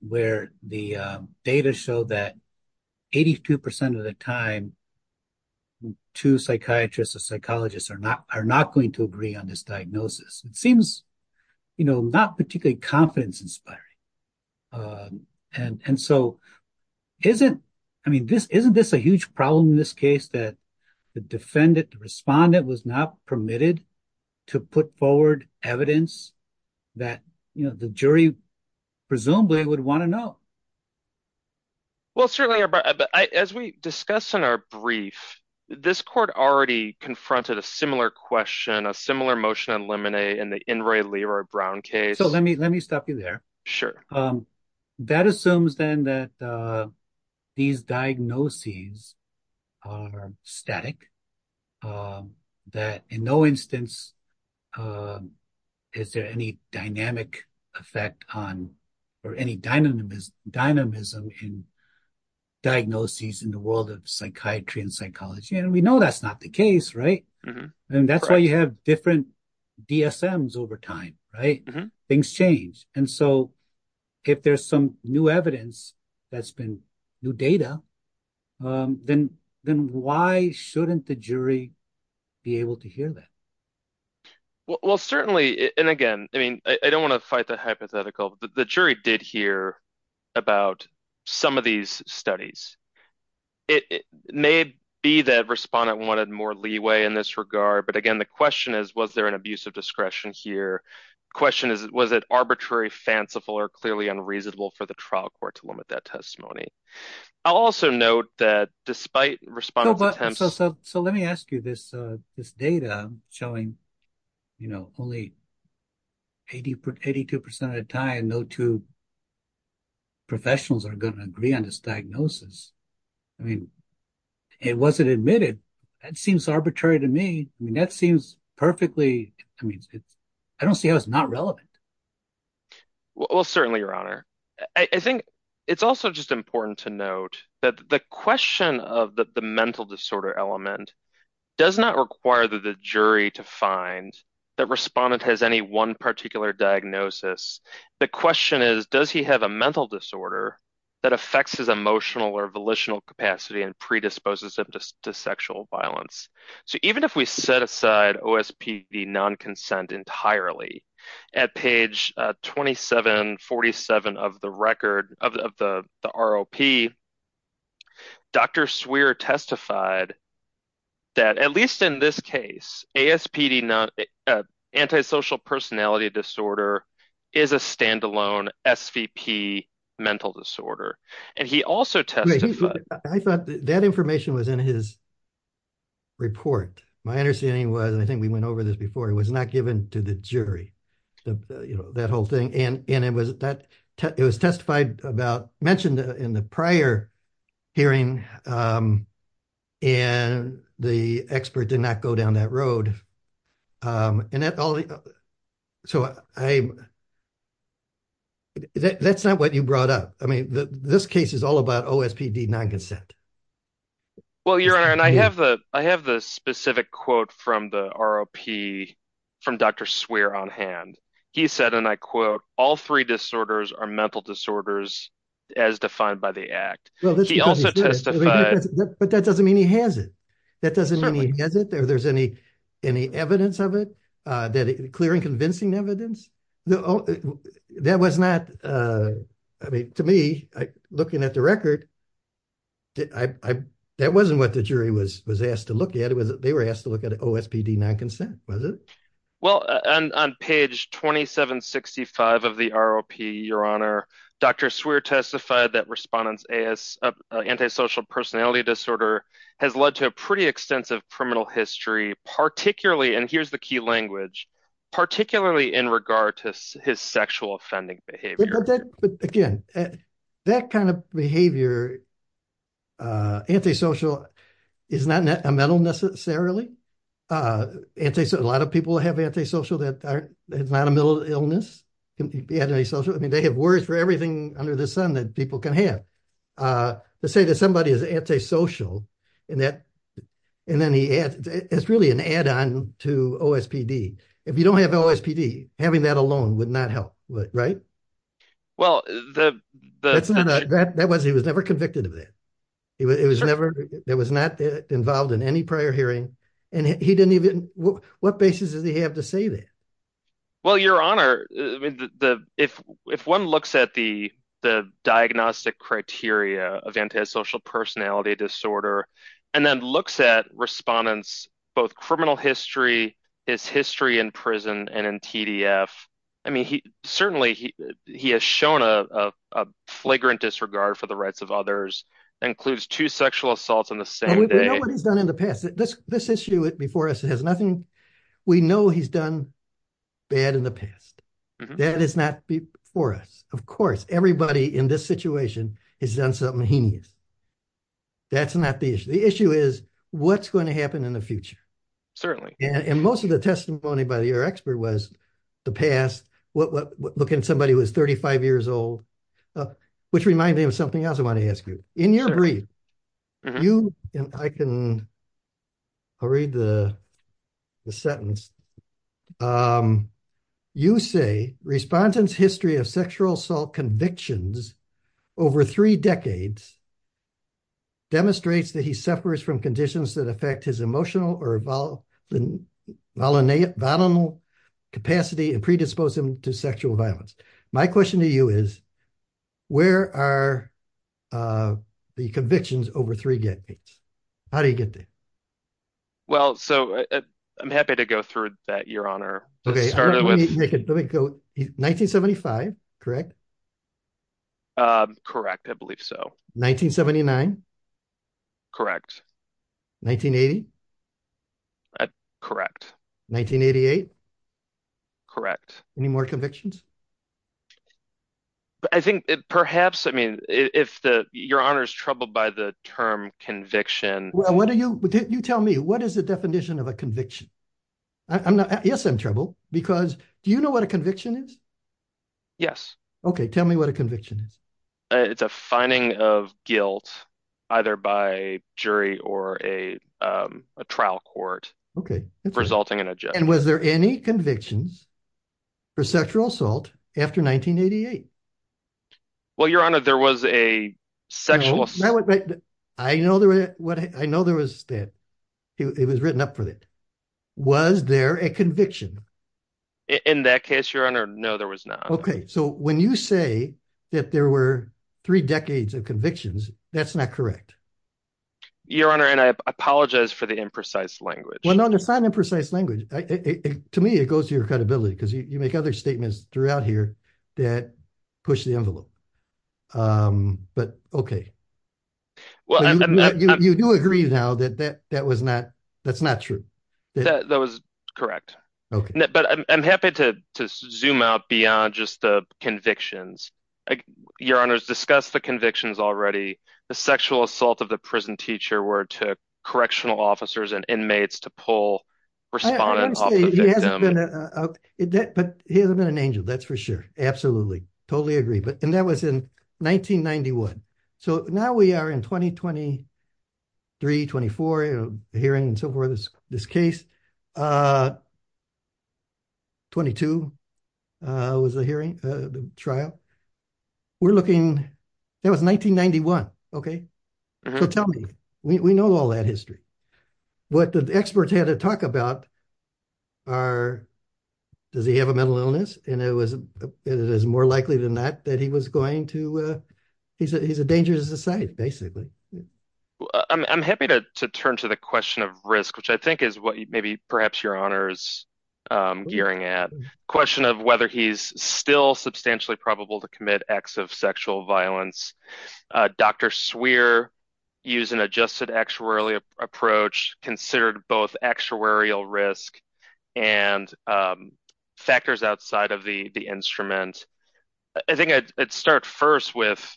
where the data show that 82% of the time, two psychiatrists or psychologists are not going to agree on this diagnosis. It seems not particularly confidence-inspiring. And so isn't this a huge problem in this case that the defendant, the respondent was not permitted to put forward evidence that the jury presumably would want to know? Well, certainly, as we discussed in our brief, this court already confronted a similar question, a similar motion on Lemonet in the Inroy Leroy Brown case. So let me stop you there. Sure. That assumes then that these diagnoses are static, that in no instance is there any dynamic effect on, or any dynamism in diagnoses in the world of psychiatry and psychology. And we know that's not the case, right? And that's why you have different DSMs over time, right? Things change. And so if there's some new evidence that's been new data, then why shouldn't the jury be able to hear that? Well, certainly, and again, I mean, I don't want to fight the hypothetical, the jury did hear about some of these studies. It may be that respondent wanted more leeway in this regard. But again, the question is, was there an abuse of discretion here? Question is, was it arbitrary, fanciful, or clearly unreasonable for the trial court to limit that testimony? I'll also note that despite respondent's attempts- So let me ask you this data showing, you know, only 82% of the time, no two professionals are going to agree on this diagnosis. I mean, it wasn't admitted. That seems arbitrary to me. I mean, that seems perfectly, I mean, I don't see how it's not relevant. Well, certainly, Your Honor. I think it's also just important to note that the question of the mental disorder element does not require the jury to find that respondent has any one particular diagnosis. The question is, does he have a mental disorder that affects his emotional or volitional capacity and predisposes him to sexual violence? So even if we set aside OSPD non-consent entirely at page 2747 of the record, of the ROP, Dr. Swearer testified that, at least in this case, ASPD, antisocial personality disorder, is a standalone SVP mental disorder. And he also testified- I thought that information was in his report. My understanding was, and I think we went over this before, it was not given to the jury, you know, that whole thing. And it was testified about, mentioned in the prior hearing, and the expert did not go down that road. So that's not what you brought up. I mean, this case is all about OSPD non-consent. Well, Your Honor, and I have the specific quote from the ROP from Dr. Swearer on hand. He said, and I quote, all three disorders are mental disorders as defined by the act. But that doesn't mean he has it. That doesn't mean he has it, or there's any evidence of it, clear and convincing evidence. No, that was not, I mean, to me, looking at the record, that wasn't what the jury was asked to look at. They were asked to look at OSPD non-consent, was it? Well, on page 2765 of the ROP, Your Honor, Dr. Swearer testified that respondent's antisocial personality disorder has led to a pretty extensive criminal history, particularly, and here's the key language, particularly in regard to his sexual offending behavior. But again, that kind of behavior, antisocial, is not a mental necessarily. A lot of people have antisocial that is not a mental illness. I mean, they have words for everything under the sun that people can have. Let's say that somebody is antisocial, and then he adds, it's really an add-on to OSPD. If you don't have OSPD, having that alone would not help, right? Well, the- That's not, he was never convicted of that. It was never, that was not involved in any prior hearing, and he didn't even, what basis does he have to say that? Well, Your Honor, if one looks at the diagnostic criteria of antisocial personality disorder, and then looks at respondents, both criminal history, his history in prison, and in TDF, I mean, certainly he has shown a flagrant disregard for the rights of others, includes two sexual assaults on the same day. We know what he's done in the past. This issue before us has nothing, we know he's done bad in the past. That is not before us. Of course, everybody in this situation has done something heinous. That's not the issue. The issue is what's going to happen in the future. Certainly. And most of the testimony by your expert was the past, looking at somebody who was 35 years old, which reminded me of something else I want to ask you. In your brief, you, and I can, I'll read the sentence. You say, respondent's history of sexual assault convictions over three decades demonstrates that he suffers from conditions that affect his emotional or volatile capacity and predispose him to sexual violence. My question to you is, where are the convictions over three decades? How do you get there? Well, so I'm happy to go through that, your honor. 1975, correct? Correct, I believe so. Correct. 1980? Correct. 1988? Correct. Any more convictions? I think perhaps, I mean, if the, your honor's troubled by the term conviction. Well, what do you, you tell me, what is the definition of a conviction? I'm not, yes, I'm troubled, because do you know what a conviction is? Yes. Okay, tell me what a conviction is. It's a finding of guilt, either by jury or a trial court. Okay. Resulting in a judge. Was there any convictions for sexual assault after 1988? Well, your honor, there was a sexual assault. I know there was that. It was written up for that. Was there a conviction? In that case, your honor, no, there was not. Okay, so when you say that there were three decades of convictions, that's not correct. Your honor, and I apologize for the imprecise language. No, there's not an imprecise language. To me, it goes to your credibility, because you make other statements throughout here that push the envelope. But okay, you do agree now that that was not, that's not true. That was correct. Okay. But I'm happy to zoom out beyond just the convictions. Your honor's discussed the convictions already. The sexual assault of the prison teacher where it took correctional officers and inmates to pull respondents off the victim. Honestly, he hasn't been an angel, that's for sure. Absolutely. Totally agree. But, and that was in 1991. So now we are in 2023, 24, hearing and so forth, this case. 22 was the hearing, the trial. We're looking, that was 1991. Okay. So tell me, we know all that history. What the experts had to talk about are, does he have a mental illness? And it was, it is more likely than not that he was going to, he's a dangerous aside, basically. I'm happy to turn to the question of risk, which I think is what maybe perhaps your honor's gearing at. Question of whether he's still substantially probable to commit acts of sexual violence. Dr. Swearer used an adjusted actuarial approach, considered both actuarial risk and factors outside of the instrument. I think I'd start first with,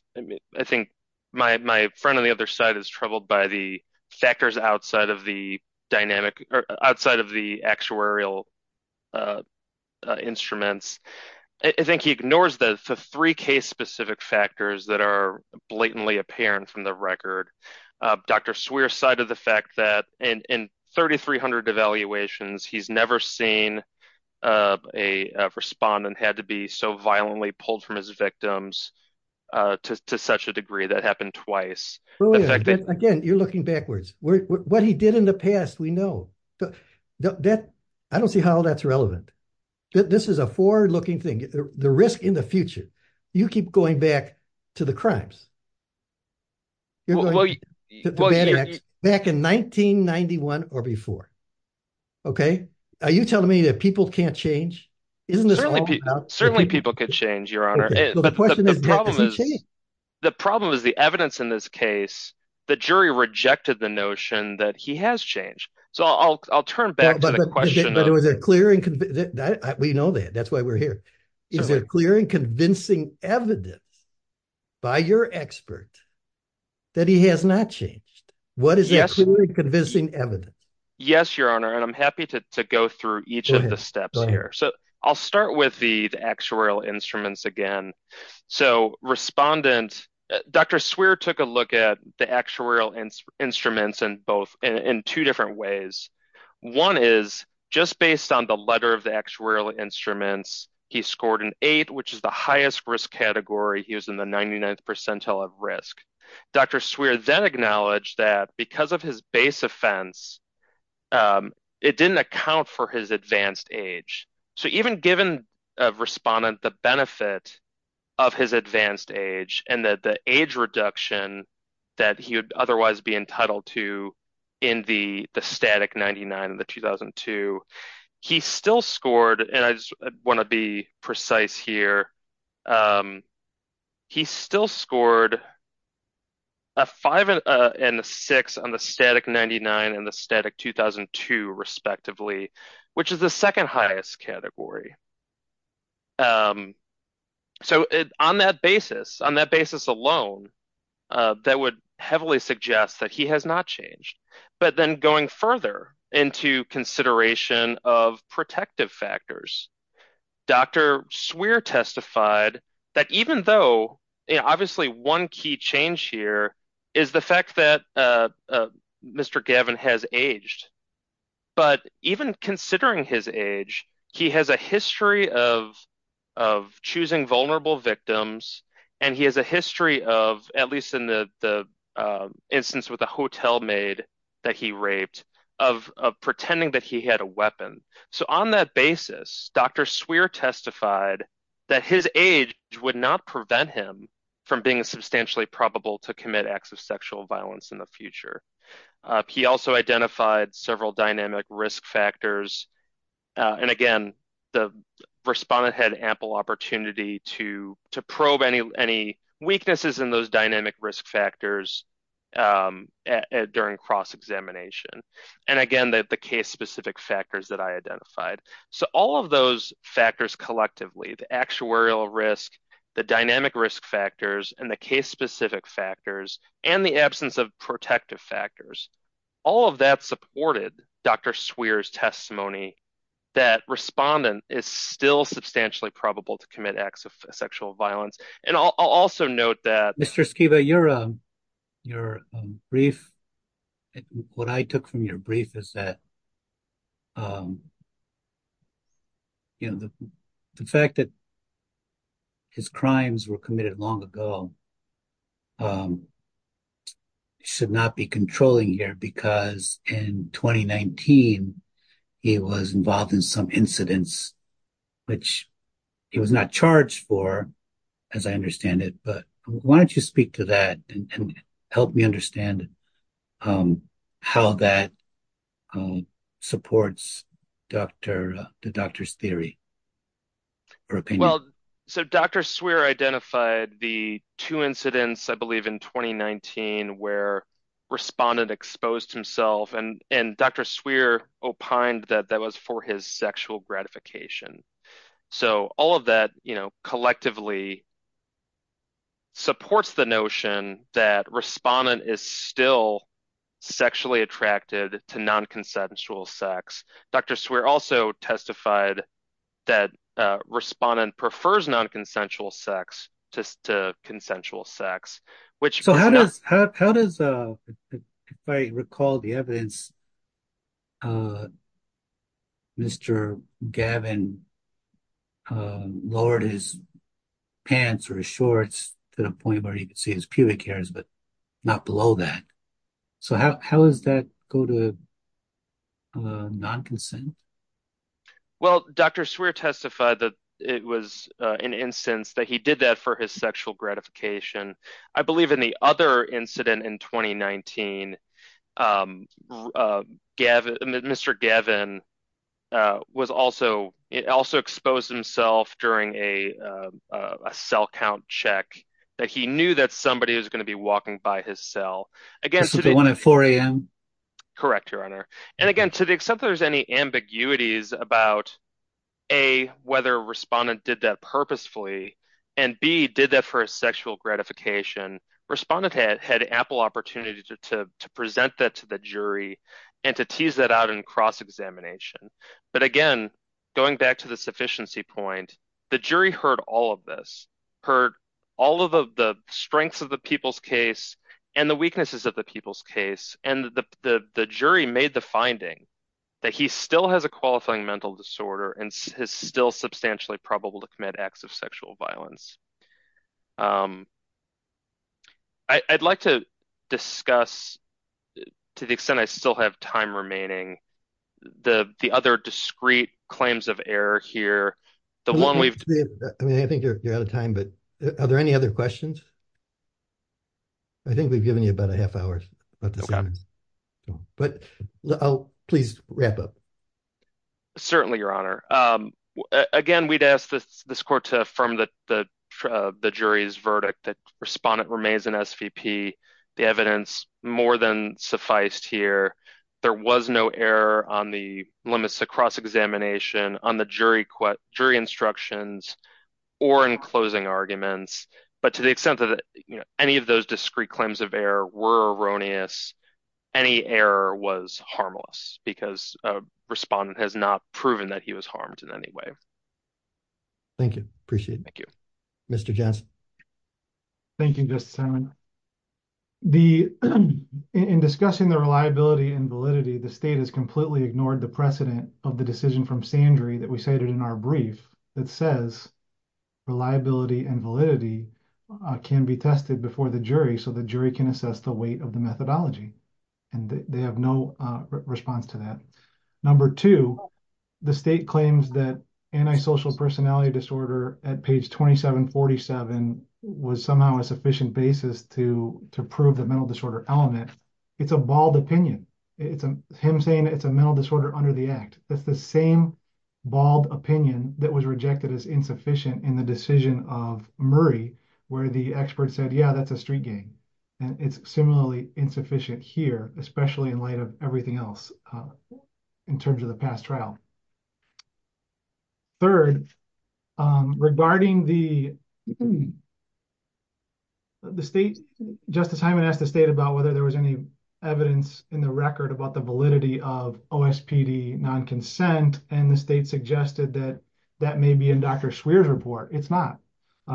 I think my friend on the other side is troubled by the factors outside of the dynamic or outside of the actuarial instruments. I think he ignores the three case specific factors that are blatantly apparent from the record. Dr. Swearer cited the fact that in 3,300 evaluations, he's never seen a respondent had to be so violently pulled from his victims to such a degree that happened twice. Again, you're looking backwards. What he did in the past, we know that I don't see how that's relevant. This is a forward looking thing. The risk in the future, you keep going back to the crimes. Back in 1991 or before. Okay. Are you telling me that people can't change? Certainly people could change your honor. But the problem is the evidence in this case, the jury rejected the notion that he has changed. So I'll turn back to the question. We know that. That's why we're here. Is there clear and convincing evidence by your expert that he has not changed? What is the clear and convincing evidence? Yes, your honor. And I'm happy to go through each of the steps here. I'll start with the actuarial instruments again. So respondent, Dr. Swearer took a look at the actuarial instruments in two different ways. One is just based on the letter of the actuarial instruments. He scored an eight, which is the highest risk category. He was in the 99th percentile of risk. Dr. Swearer then acknowledged that because of his base offense, it didn't account for his advanced age. So even given a respondent, the benefit of his advanced age and that the age reduction that he would otherwise be entitled to in the static 99 and the 2002, he still scored. And I just want to be precise here. He still scored a five and a six on the static 99 and the static 2002 respectively, which is the second highest category. So on that basis, on that basis alone, that would heavily suggest that he has not changed. But then going further into consideration of protective factors, Dr. Swearer testified that even though obviously one key change here is the fact that Mr. Gavin has aged. But even considering his age, he has a history of choosing vulnerable victims. And he has a history of, at least in the instance with a hotel maid that he raped, of pretending that he had a weapon. So on that basis, Dr. Swearer testified that his age would not prevent him from being substantially probable to commit acts of sexual violence in the future. He also identified several dynamic risk factors. And again, the respondent had ample opportunity to probe any weaknesses in those dynamic risk factors during cross-examination. And again, the case-specific factors that I identified. So all of those factors collectively, the actuarial risk, the dynamic risk factors, and the case-specific factors, and the absence of protective factors, all of that supported Dr. Swearer's testimony that respondent is still substantially probable to commit acts of sexual violence. And I'll also note that- Mr. Skiba, your brief, what I took from your brief is that the fact that his crimes were committed long ago should not be controlling here because in 2019 he was involved in some incidents, which he was not charged for, as I understand it. But why don't you speak to that and help me understand how that supports the doctor's theory or opinion? Well, so Dr. Swearer identified the two incidents, I believe, in 2019 where respondent exposed himself. And Dr. Swearer opined that that was for his sexual gratification. So all of that collectively supports the notion that respondent is still sexually attracted to non-consensual sex. Dr. Swearer also testified that respondent prefers non-consensual sex to consensual sex, which- How does, if I recall the evidence, Mr. Gavin lowered his pants or his shorts to the point where you could see his pubic hairs, but not below that. So how does that go to non-consent? Well, Dr. Swearer testified that it was an instance that he did that for his sexual gratification. I believe in the other incident in 2019, Mr. Gavin also exposed himself during a cell count check, that he knew that somebody was going to be walking by his cell. This would have been at 4 a.m.? Correct, Your Honor. And again, to the extent there's any ambiguities about, A, whether respondent did that purposefully, and B, did that for a sexual gratification, respondent had ample opportunity to present that to the jury and to tease that out in cross-examination. But again, going back to the sufficiency point, the jury heard all of this, heard all of the strengths of the people's case and the weaknesses of the people's case. And the jury made the finding that he still has a qualifying mental disorder and is still substantially probable to commit acts of sexual violence. I'd like to discuss, to the extent I still have time remaining, the other discrete claims of error here. I mean, I think you're out of time, but are there any other questions? I think we've given you about a half hour. But please wrap up. Certainly, Your Honor. Again, we'd ask this court to affirm the jury's verdict that respondent remains an SVP. The evidence more than sufficed here. There was no error on the limits of cross-examination, on the jury instructions, or in closing arguments. But to the extent that any of those discrete claims of error were erroneous, any error was harmless. Because a respondent has not proven that he was harmed in any way. Thank you. Appreciate it. Thank you. Mr. Johnson. Thank you, Justice Simon. In discussing the reliability and validity, the state has completely ignored the precedent of the decision from Sandry that we cited in our brief that says reliability and validity can be tested before the jury so the jury can assess the weight of the methodology. And they have no response to that. Number two, the state claims that antisocial personality disorder at page 2747 was somehow a sufficient basis to prove the mental disorder element. It's a bald opinion. It's him saying it's a mental disorder under the act. That's the same bald opinion that was rejected as insufficient in the decision of Murray, where the expert said, yeah, that's a street gang. And it's similarly insufficient here, especially in light of everything else in terms of the past trial. Third, regarding the state, Justice Simon asked the state about whether there was any evidence in the record about the validity of OSPD non-consent. And the state suggested that that may be in Dr. Sweare's report. It's not.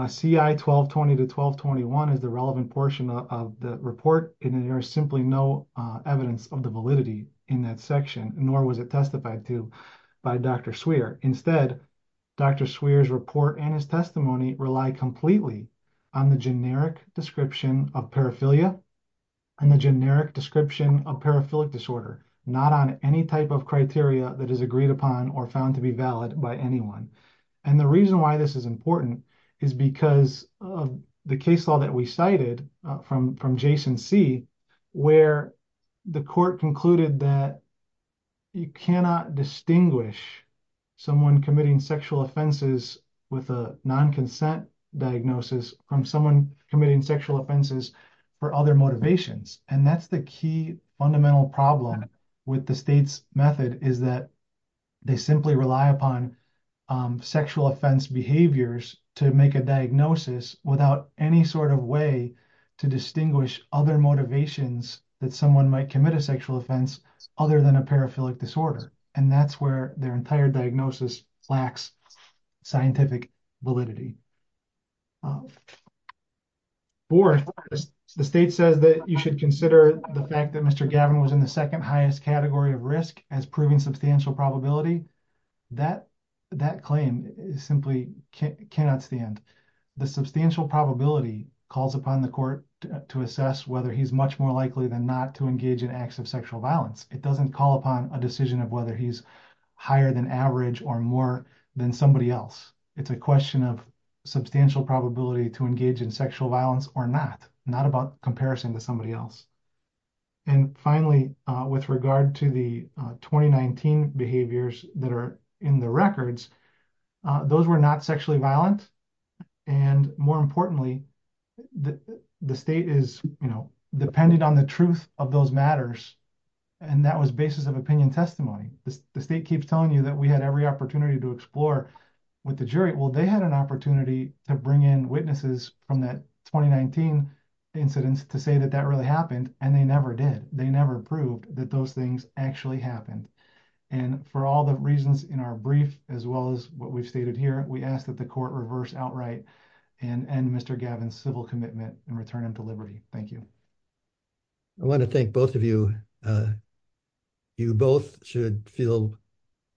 CI 1220 to 1221 is the relevant portion of the report, and there is simply no evidence of the validity in that section, nor was it testified to by Dr. Sweare. Instead, Dr. Sweare's report and his testimony rely completely on the generic description of paraphilia and the generic description of paraphilic disorder, not on any type of criteria that is agreed upon or found to be valid by anyone. And the reason why this is important is because of the case law that we cited from Jason C., where the court concluded that you cannot distinguish someone committing sexual offenses with a non-consent diagnosis from someone committing sexual offenses for other motivations. And that's the key fundamental problem with the state's method, is that they simply rely upon sexual offense behaviors to make a diagnosis without any sort of way to distinguish other motivations that someone might commit a sexual offense other than a paraphilic disorder. And that's where their entire diagnosis lacks scientific validity. Fourth, the state says that you should consider the fact that Mr. Gavin was in highest category of risk as proving substantial probability. That claim simply cannot stand. The substantial probability calls upon the court to assess whether he's much more likely than not to engage in acts of sexual violence. It doesn't call upon a decision of whether he's higher than average or more than somebody else. It's a question of substantial probability to engage in sexual violence or not, not about comparison to somebody else. And finally, with regard to the 2019 behaviors that are in the records, those were not sexually violent. And more importantly, the state is dependent on the truth of those matters. And that was basis of opinion testimony. The state keeps telling you that we had every opportunity to explore with the jury. Well, they had an opportunity to bring in witnesses from that 2019 incidents to say that that really happened. And they never did. They never proved that those things actually happened. And for all the reasons in our brief, as well as what we've stated here, we ask that the court reverse outright and end Mr. Gavin's civil commitment and return him to liberty. Thank you. I want to thank both of you. You both should feel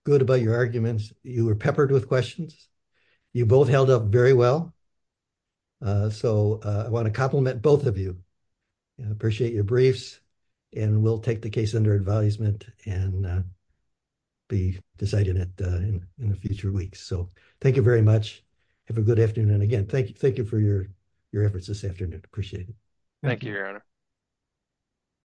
good about your arguments. You were peppered with questions. You both held up very well. So I want to compliment both of you. Appreciate your briefs. And we'll take the case under advisement and be deciding it in the future weeks. So thank you very much. Have a good afternoon. And again, thank you. Thank you for your efforts this afternoon. Appreciate it. Thank you, Your Honor.